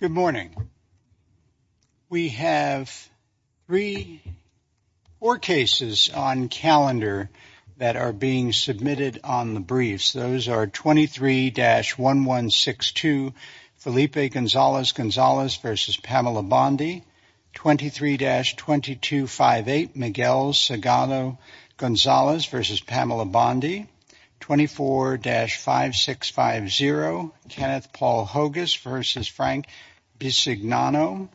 Good morning. We have three or cases on calendar that are being submitted on the briefs. Those are 23-1162 Felipe Gonzales, Gonzales v. Pamela Bondi, 23-2258 Miguel Sagano, Gonzales v. Pamela Bondi, 24-5650 Kenneth Paul Hogus v. Frank Bisignano,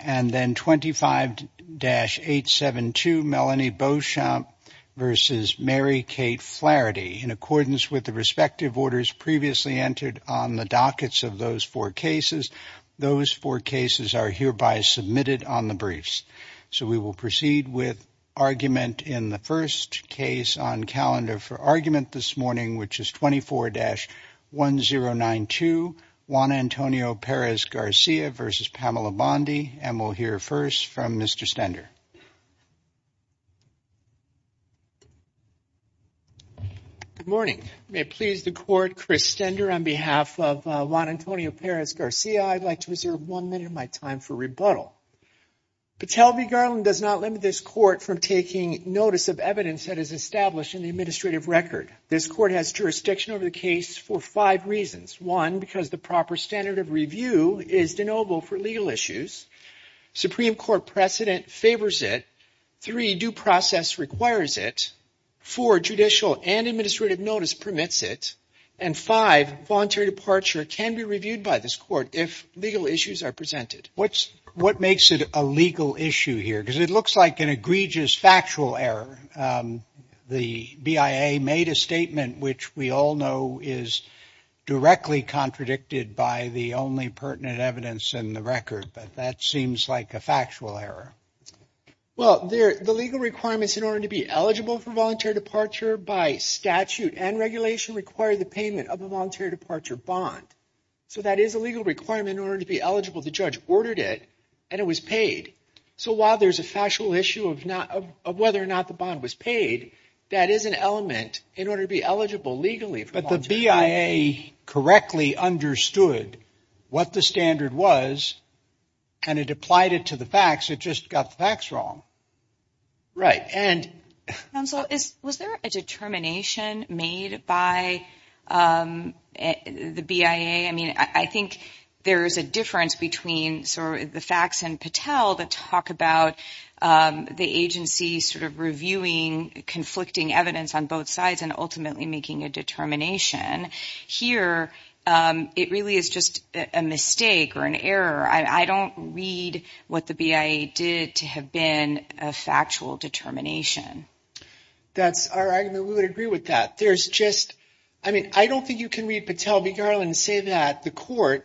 and then 25-872 Melanie Beauchamp v. Mary Kate Flaherty. In accordance with the respective orders previously entered on the dockets of those four cases, those four cases are hereby submitted on the briefs. So we will proceed with argument in the first case on calendar for argument this morning, which is 24-1092 Juan Antonio Perez-Garcia v. Pamela Bondi, and we'll hear first from Mr. Stender. Good morning. May it please the Court, Chris Stender on behalf of Juan Antonio Perez-Garcia, I'd like to reserve one minute of my time for rebuttal. Patel v. Garland does not limit this Court from taking notice of evidence that is established in the administrative record. This Court has jurisdiction over the case for five reasons. One, because the proper standard of review is deniable for legal issues. Supreme Court precedent favors it. Three, due process requires it. Four, judicial and administrative notice permits it. And five, voluntary departure can be reviewed by this Court if legal issues are presented. What makes it a legal issue here? Because it looks like an egregious factual error. The BIA made a statement which we all know is directly contradicted by the only pertinent evidence in the record, but that seems like a factual error. Well, the legal requirements in order to be eligible for voluntary departure by statute and regulation require the payment of a voluntary departure bond. So that is a legal requirement in order to be eligible. The judge ordered it and it was paid. So while there's a factual issue of whether or not the bond was paid, that is an element in order to be eligible legally. But the BIA correctly understood what the standard was and it applied it to the facts. It just got the facts wrong. Right. Counsel, was there a determination made by the BIA? I mean, I think there is a difference between sort of the facts and Patel that talk about the agency sort of reviewing conflicting evidence on both sides and ultimately making a determination. Here, it really is just a mistake or an error. I don't read what the BIA did to have been a factual determination. That's our argument. We would agree with that. There's just, I mean, I don't think you can read Patel v. Garland and say that the court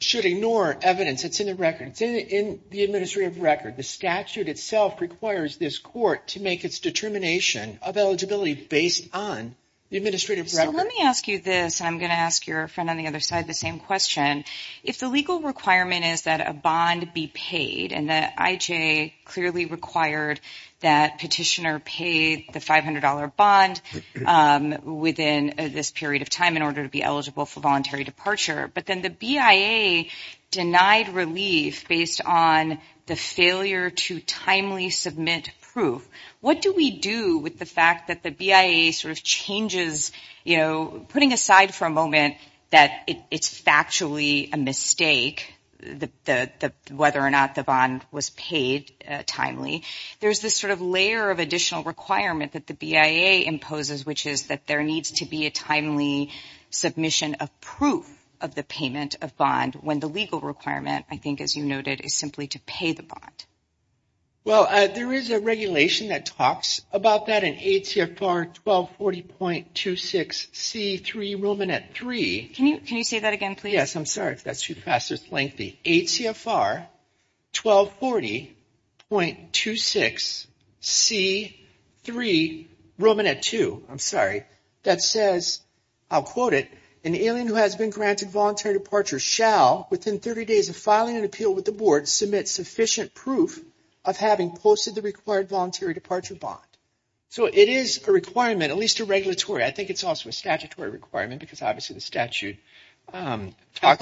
should ignore evidence that's in the record. It's in the administrative record. The statute itself requires this court to make its determination of eligibility based on the administrative record. Let me ask you this, and I'm going to ask your friend on the other side the same question. If the legal requirement is that a bond be paid and that IJ clearly required that petitioner pay the $500 bond within this period of time in order to be eligible for voluntary departure, but then the BIA denied relief based on the failure to timely submit proof, what do we do with the fact that the BIA sort of changes, putting aside for a moment that it's factually a mistake whether or not the bond was paid timely, there's this sort of layer of additional requirement that the BIA imposes, which is that there needs to be a timely submission of proof of the payment of bond when the legal requirement, I think as you noted, is simply to pay the bond. Patel Well, there is a regulation that talks about that in ACFR 1240.26C3 Romanette 3. O'Neill Can you say that again, please? Patel Yes, I'm sorry if that's too fast. It's lengthy. ACFR 1240.26C3 Romanette 2, I'm sorry, that says, I'll quote it, an alien who has been granted voluntary departure shall, within 30 days of filing an appeal with the board, submit sufficient proof of having posted the required voluntary departure bond. So, it is a requirement, at least a regulatory, I think it's also a statutory requirement because obviously the statute talks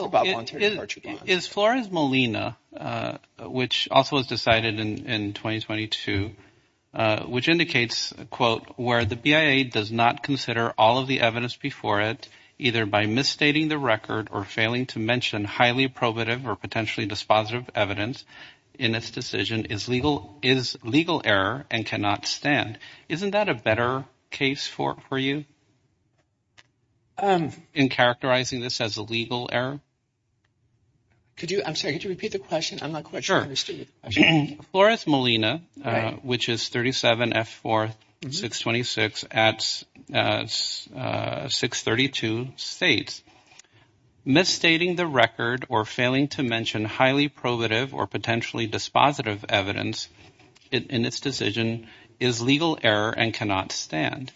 about voluntary departure bonds. Is Flores Molina, which also was decided in 2022, which indicates, quote, where the BIA does not consider all of the evidence before it, either by misstating the record or failing to mention highly probative or potentially dispositive evidence in its decision, is legal error and cannot stand. Isn't that a better case for you in characterizing this as a legal error? Patel I'm sorry, could you repeat the question? Romanette Sure. Flores Molina, which is 37F4626 at 632 states, misstating the record or failing to mention highly probative or potentially dispositive evidence in its decision is legal error and cannot stand.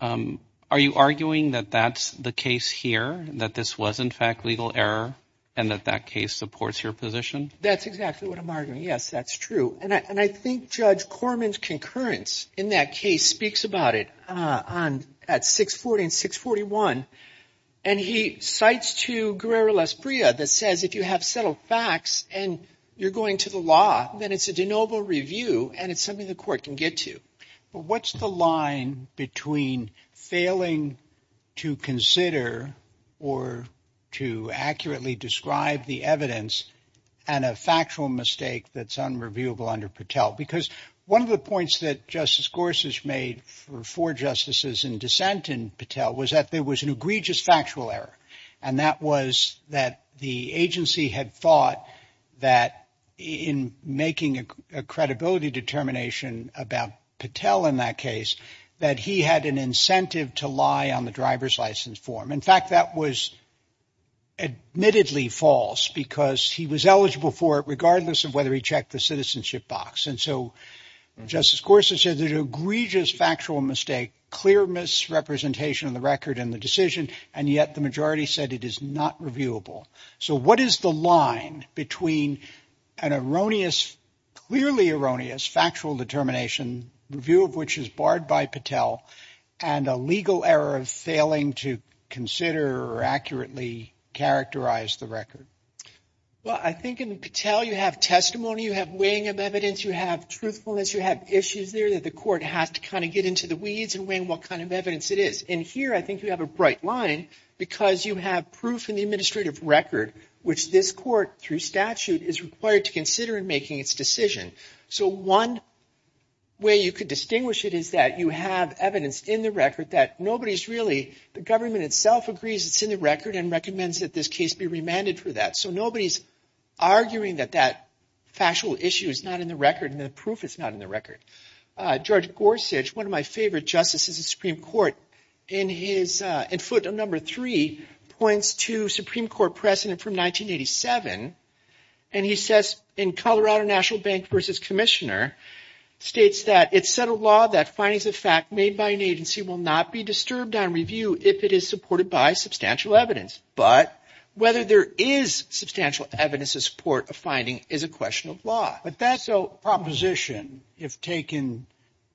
Are you arguing that that's the case here, that this was in fact legal error and that that case supports your position? Patel That's exactly what I'm arguing. Yes, that's true. And I think Judge Corman's concurrence in that case speaks about it on at 640 and 641. And he cites to Guerrero-Lasprilla that says if you have settled facts and you're going to the law, then it's a de novo review and it's something the court can get to. But what's the line between failing to consider or to accurately describe the evidence and a factual mistake that's unreviewable under Patel? Because one of the points that Justice Gorsuch made for four justices in dissent in Patel was that there was an egregious factual error. And that was that the agency had thought that in making a credibility determination about Patel in that case, that he had an incentive to lie on the driver's license form. In fact, that was admittedly false because he was eligible for it regardless of whether he checked the box. And so Justice Gorsuch said there's an egregious factual mistake, clear misrepresentation of the record and the decision. And yet the majority said it is not reviewable. So what is the line between an erroneous, clearly erroneous factual determination review of which is barred by Patel and a legal error of failing to consider or accurately characterize the record? Well, I think in Patel you have testimony, you have weighing of evidence, you have truthfulness, you have issues there that the court has to kind of get into the weeds and weigh what kind of evidence it is. And here I think you have a bright line because you have proof in the administrative record which this court through statute is required to consider in making its decision. So one way you could distinguish it is that you have evidence in the record that nobody's really, the government itself agrees it's in the record and recommends that this case be remanded for that. So nobody's arguing that that factual issue is not in the record and the proof is not in the record. George Gorsuch, one of my favorite justices of the Supreme Court, in his, in foot number three, points to Supreme Court precedent from 1987 and he says in Colorado National Bank versus Commissioner states that it's set a law that findings of fact made by an agency will not be on review if it is supported by substantial evidence. But whether there is substantial evidence to support a finding is a question of law. But that's a proposition if taken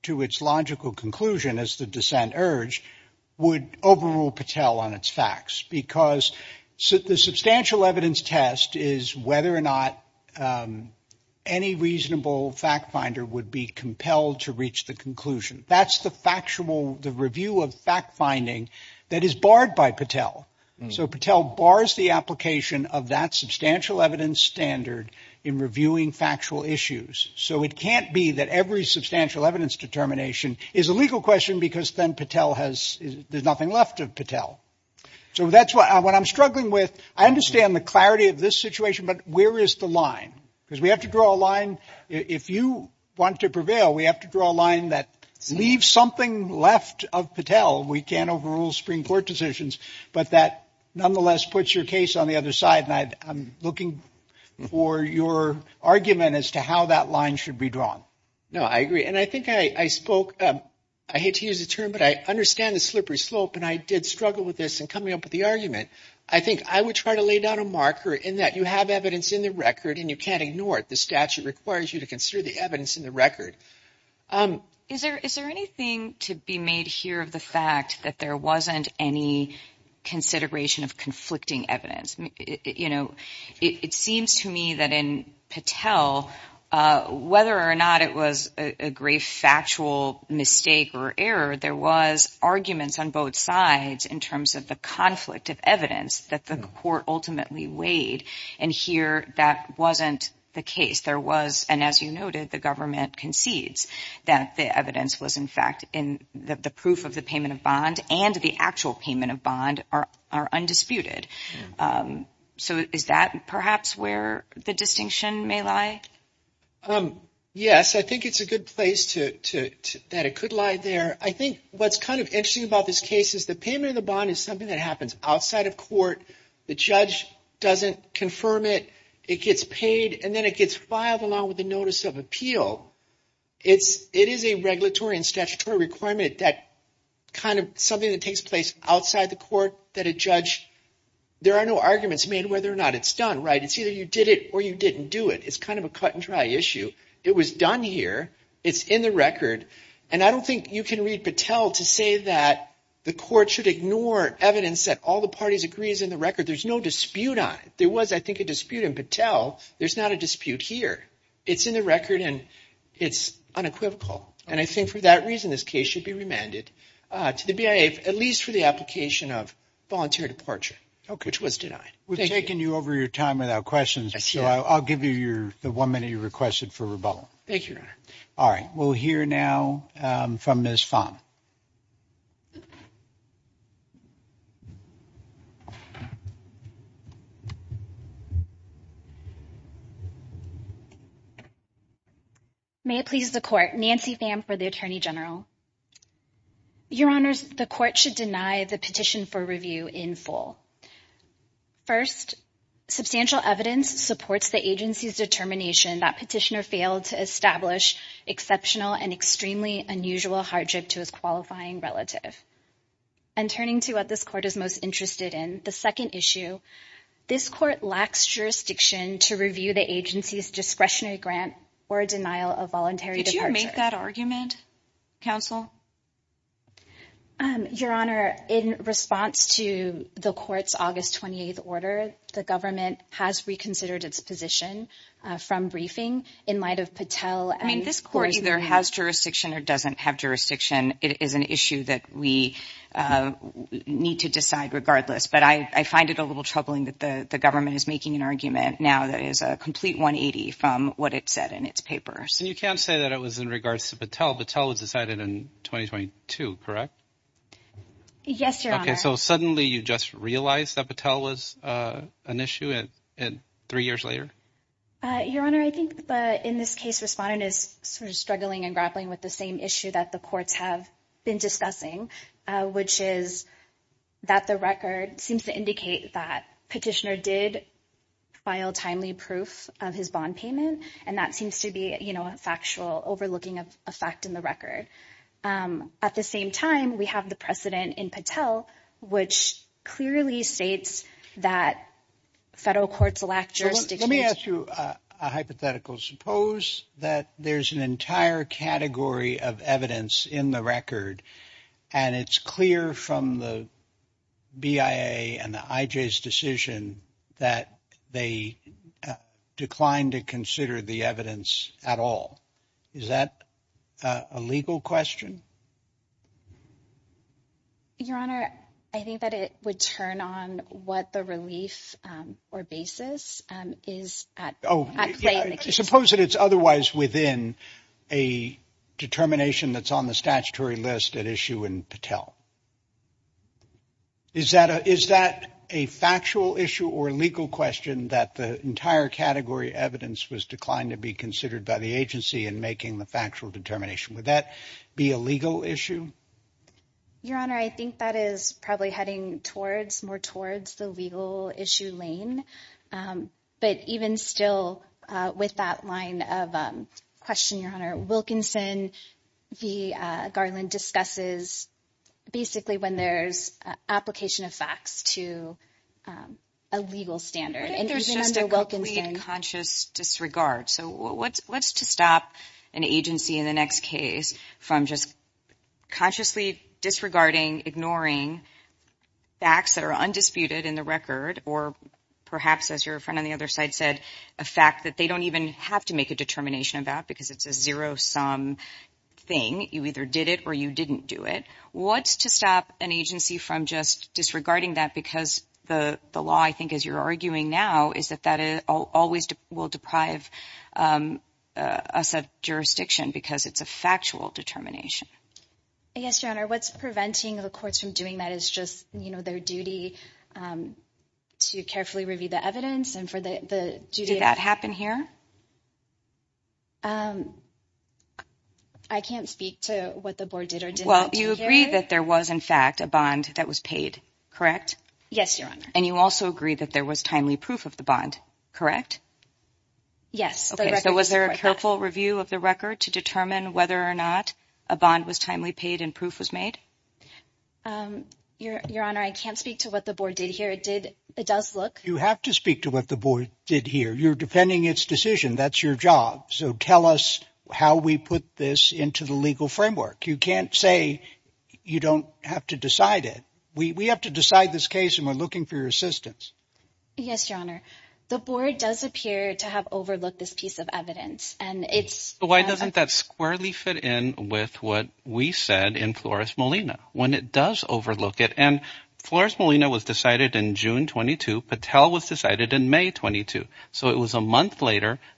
to its logical conclusion as the dissent urge would overrule Patel on its facts because the substantial evidence test is whether or not any reasonable fact finder would be compelled to reach the conclusion. That's the factual, the review of fact finding that is barred by Patel. So Patel bars the application of that substantial evidence standard in reviewing factual issues. So it can't be that every substantial evidence determination is a legal question because then Patel has, there's nothing left of Patel. So that's what I, what I'm struggling with. I understand the clarity of this situation, but where is the line? Because we have to draw a line. If you want to leave something left of Patel, we can't overrule Supreme Court decisions, but that nonetheless puts your case on the other side. And I'm looking for your argument as to how that line should be drawn. No, I agree. And I think I spoke, I hate to use the term, but I understand the slippery slope and I did struggle with this and coming up with the argument. I think I would try to lay down a marker in that you have evidence in the record and you can't ignore it. The statute requires you to consider the evidence in the record. Is there, is there anything to be made here of the fact that there wasn't any consideration of conflicting evidence? You know, it seems to me that in Patel, whether or not it was a grave factual mistake or error, there was arguments on both sides in terms of the conflict of evidence that the court ultimately weighed. And here that wasn't the case. There was, and as you noted, the government concedes that the evidence was in fact in the proof of the payment of bond and the actual payment of bond are undisputed. So is that perhaps where the distinction may lie? Yes, I think it's a good place to, that it could lie there. I think what's kind of interesting about this case is the payment of the bond is something that happens outside of court. The judge doesn't confirm it. It gets paid and then it gets filed along with the notice of appeal. It's, it is a regulatory and statutory requirement that kind of something that takes place outside the court that a judge, there are no arguments made whether or not it's done right. It's either you did it or you didn't do it. It's kind of a cut and dry issue. It was done here. It's in the record. And I don't think you can read Patel to say that the court should ignore evidence that all the parties agree is in the record. There's no dispute on it. There was, I think, a dispute in Patel. There's not a dispute here. It's in the record and it's unequivocal. And I think for that reason, this case should be remanded to the BIA, at least for the application of voluntary departure, which was denied. We've taken you over your time without questions. So I'll give you your, the one minute you requested for rebuttal. Thank you, Your Honor. All right. We'll hear now from Ms. Pham. May it please the court, Nancy Pham for the Attorney General. Your Honors, the court should deny the petition for review in full. First, substantial evidence supports the agency's determination that petitioner failed to establish exceptional and extremely unusual hardship to his qualifying relative. And turning to what this court is most interested in, the second issue, this court lacks jurisdiction to review the agency's discretionary grant or denial of voluntary departure. Did you make that argument, counsel? Your Honor, in response to the court's August 28th order, the government has reconsidered its position from briefing in light of Patel. I mean, this court either has jurisdiction or doesn't have jurisdiction. It is an issue that we need to decide regardless. But I find it a little troubling that the government is making an argument now that is a complete 180 from what it said in its papers. And you can't say that it was in regards to Patel. Patel was decided in 2022, correct? Yes, Your Honor. Okay. So suddenly you just realized that Patel was an issue at three years later? Your Honor, I think in this case, respondent is sort of struggling and grappling with the same issue that the courts have been discussing, which is that the record seems to indicate that petitioner did file timely proof of his bond payment. And that seems to be a factual overlooking of a fact in the record. At the same time, we have the precedent in Patel, which clearly states that federal courts lack jurisdiction. Let me ask you a hypothetical. Suppose that there's an entire category of evidence in the record, and it's clear from the BIA and the legal question. Your Honor, I think that it would turn on what the relief or basis is. Suppose that it's otherwise within a determination that's on the statutory list at issue in Patel. Is that is that a factual issue or legal question that the entire category evidence was declined to be considered by the agency in making the factual determination? Would that be a legal issue? Your Honor, I think that is probably heading towards more towards the legal issue lane. But even still with that line of question, Your Honor, Wilkinson v. Garland discusses basically when there's application of facts to a legal standard and there's just a complete conscious disregard. So what's what's to stop an agency in the next case from just consciously disregarding, ignoring facts that are undisputed in the record? Or perhaps, as your friend on the other side said, a fact that they don't even have to make a determination about because it's a zero sum thing. You either did it or you didn't do it. What's to stop an agency from just disregarding that? Because the the law, I think, as you're arguing now, is that that always will deprive us of jurisdiction because it's a factual determination. Yes, Your Honor, what's preventing the courts from doing that is just, you know, their duty to carefully review the evidence and for the duty. Did that happen here? I can't speak to what the board did or did. Well, you agree that there was, in fact, a bond that was paid, correct? Yes, Your Honor. And you also agree that there was timely proof of the bond, correct? Yes. So was there a careful review of the record to determine whether or not a bond was timely paid and proof was made? Your Honor, I can't speak to what the board did here. It did. It does look. You have to speak to what the board did here. You're defending its decision. That's your job. So tell us how we put this into the legal framework. You can't say you don't have to decide it. We have to decide this case and we're looking for your assistance. Yes, Your Honor. The board does appear to have overlooked this piece of evidence and it's. Why doesn't that squarely fit in with what we said in Flores Molina when it does overlook it? And a month later,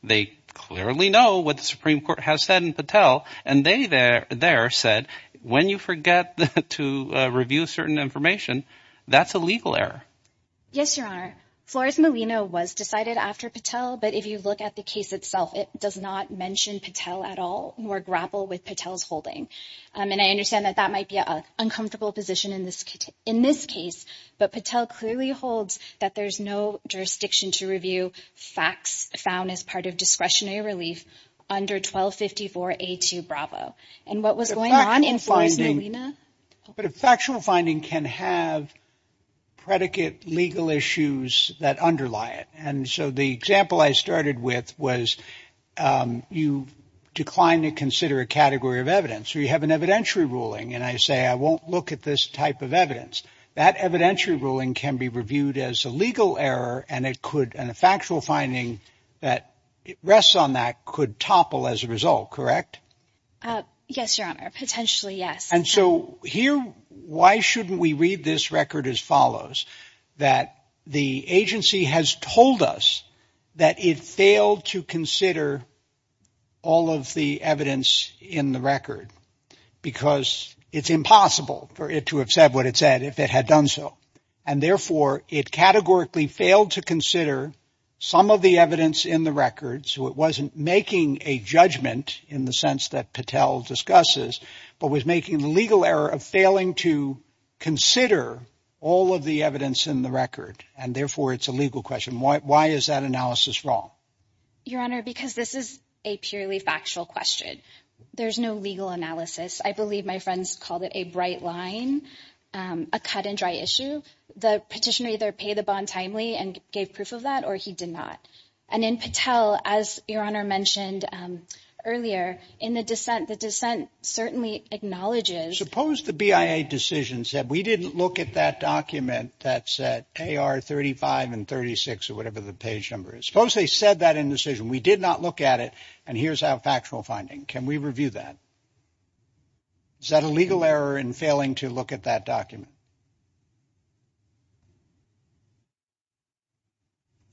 they clearly know what the Supreme Court has said in Patel. And they there said, when you forget to review certain information, that's a legal error. Yes, Your Honor. Flores Molina was decided after Patel. But if you look at the case itself, it does not mention Patel at all or grapple with Patel's holding. And I understand that that might be an uncomfortable position in this case. But Patel clearly holds that there's no jurisdiction to review facts found as part of discretionary relief under 1254A2 Bravo. And what was going on in Flores Molina? But a factual finding can have predicate legal issues that underlie it. And so the example I started with was you declined to consider a category of evidence or you have an evidentiary ruling. And I say, I won't look at this type of evidence. That evidentiary ruling can be reviewed as a legal error. And it could and a factual finding that rests on that could topple as a result. Correct? Yes, Your Honor. Potentially, yes. And so here, why shouldn't we read this record as follows that the agency has told us that it failed to consider all of the evidence in the record because it's impossible for it to have said what it said if it had done so. And therefore, it categorically failed to consider some of the evidence in the record. So it wasn't making a judgment in the sense that Patel discusses, but was making the legal error of failing to consider all of the evidence in the record. And therefore, it's a legal question. Why is that wrong? Your Honor, because this is a purely factual question. There's no legal analysis. I believe my friends called it a bright line, a cut and dry issue. The petitioner either pay the bond timely and gave proof of that or he did not. And in Patel, as Your Honor mentioned earlier in the dissent, the dissent certainly acknowledges. Suppose the BIA decision said we didn't look at that document that said AR 35 and 36 or whatever the page number is. Suppose they said that indecision. We did not look at it. And here's our factual finding. Can we review that? Is that a legal error in failing to look at that document?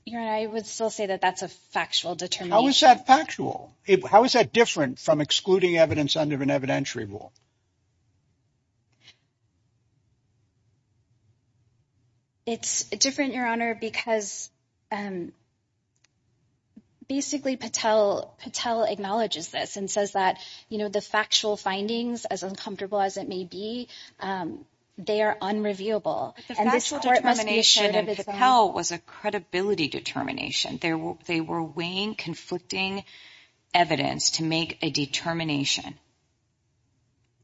Your Honor, I would still say that that's a factual determination. How is that factual? How is that different from excluding evidence under an evidentiary rule? It's different, Your Honor, because basically Patel acknowledges this and says that, you know, the factual findings, as uncomfortable as it may be, they are unreviewable. The factual determination in Patel was a credibility determination. They were weighing conflicting evidence to make a determination.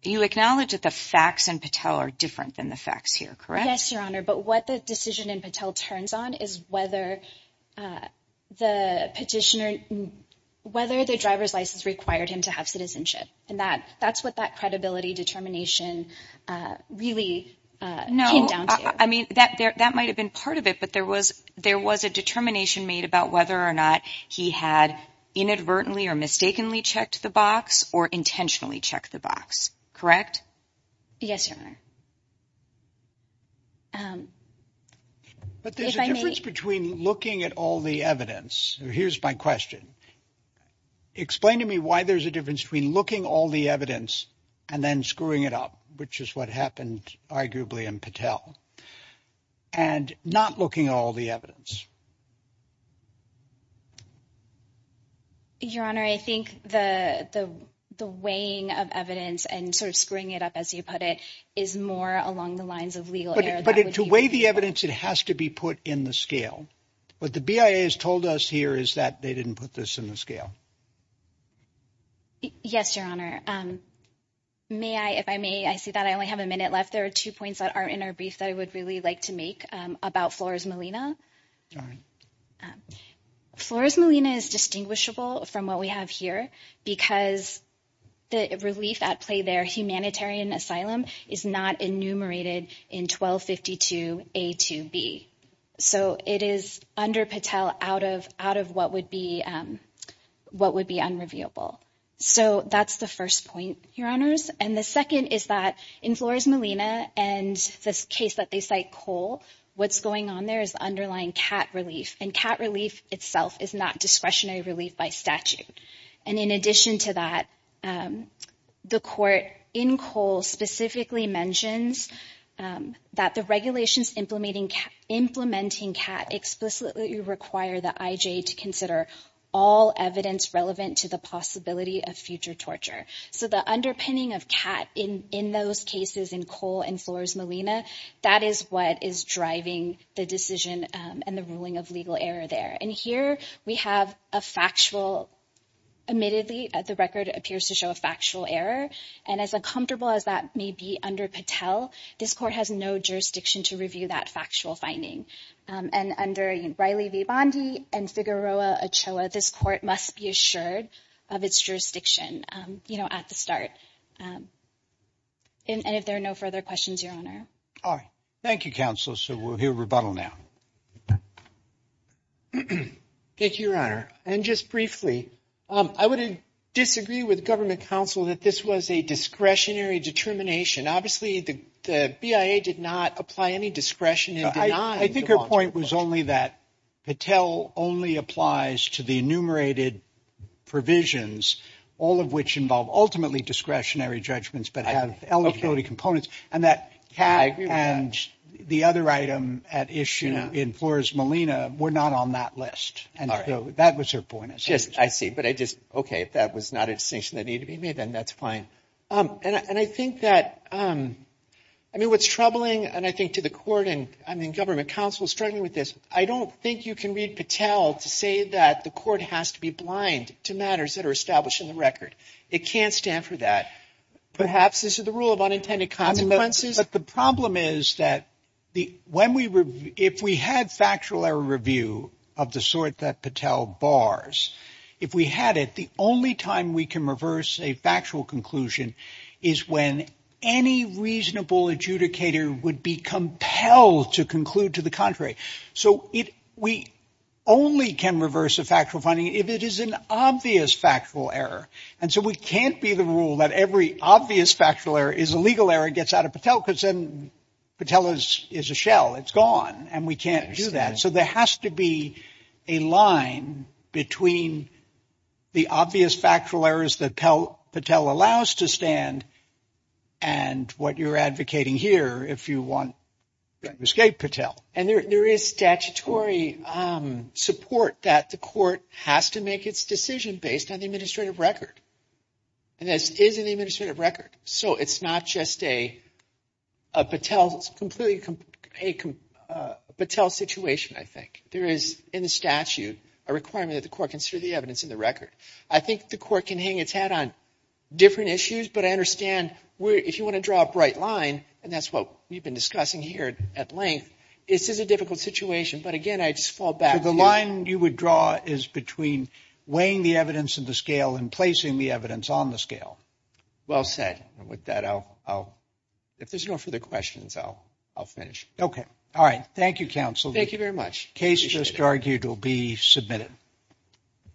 You acknowledge that the facts in Patel are different than the facts here, correct? Yes, Your Honor, but what the decision in Patel turns on is whether the petitioner, whether the driver's license required him to have citizenship. And that's what that credibility determination really came down to. No, I mean, that might have been part of it, but there was a determination made about whether or not he had inadvertently or mistakenly checked the box or intentionally checked the box, correct? Yes, Your Honor. But there's a difference between looking at all the evidence. Here's my question. Explain to me why there's a difference between looking at all the and then screwing it up, which is what happened arguably in Patel and not looking at all the evidence. Your Honor, I think the the the weighing of evidence and sort of screwing it up, as you put it, is more along the lines of legal error. But to weigh the evidence, it has to be put in the scale. What the BIA has told us here is that they didn't put this in the scale. Yes, Your Honor. May I, if I may, I see that I only have a minute left. There are two points that aren't in our brief that I would really like to make about Flores Molina. Flores Molina is distinguishable from what we have here because the relief at play there, humanitarian asylum, is not enumerated in 1252 A to B. So it is under Patel out of out of what would be what would be unrevealable. So that's the first point, Your Honors. And the second is that in Flores Molina and this case that they cite Cole, what's going on there is underlying cat relief and cat relief itself is not discretionary relief by statute. And in addition to that, the court in Cole specifically mentions that the regulations implementing cat explicitly require the IJ to consider all evidence relevant to the possibility of future torture. So the underpinning of cat in in those cases in Cole and Flores Molina, that is what is driving the decision and the ruling of legal error there. And here we have a factual, admittedly the record appears to show a factual error. And as uncomfortable as that may be under Patel, this court has no jurisdiction to review that factual finding. And under Riley v. Bondi and Figueroa Ochoa, this court must be assured of its jurisdiction, you know, at the start. And if there are no further questions, Your Honor. All right. Thank you, Counsel. So we'll hear rebuttal now. Thank you, Your Honor. And just briefly, I would disagree with government counsel that this was a discretionary determination. Obviously, the BIA did not apply any discretion in denying. I think your point was only that Patel only applies to the enumerated provisions, all of which involve ultimately discretionary judgments, but have eligibility components. And that cat and the other item at issue in Flores Molina were not on that list. And that was her point. Yes, I see. But I just OK, if that was not a distinction that needed to be made, then that's fine. And I think that I mean, what's troubling and I think to the court and I mean, government counsel struggling with this, I don't think you can read Patel to say that the court has to be blind to matters that are established in the record. It can't stand for that. Perhaps this is the rule of unintended consequences. But the problem is that the when we were if we had factual error review of the sort that Patel bars, if we had it, the only time we can reverse a factual conclusion is when any reasonable adjudicator would be compelled to conclude to the contrary. So we only can reverse a factual finding if it is an obvious factual error. And so we can't be the rule that every obvious factual error is a legal error gets out of Patel because then Patel is a shell. It's gone and we can't do that. So there has to be a line between the obvious factual errors that Patel allows to stand and what you're advocating here if you want to escape Patel. And there is statutory support that the court has to make its decision based on the administrative record. And this is an administrative record. So it's not just a Patel situation, I think. There is in the statute a requirement that the court consider the evidence in the record. I think the court can hang its head on different issues. But I understand if you want to draw a bright line, and that's what we've been discussing here at length, this is a difficult situation. But again, I just fall back. So the line you would draw is between weighing the evidence in the scale and placing the evidence on the scale. Well said. And with that, if there's no further questions, I'll finish. Okay. All right. Thank you, counsel. Thank you very much. Case just argued will be submitted.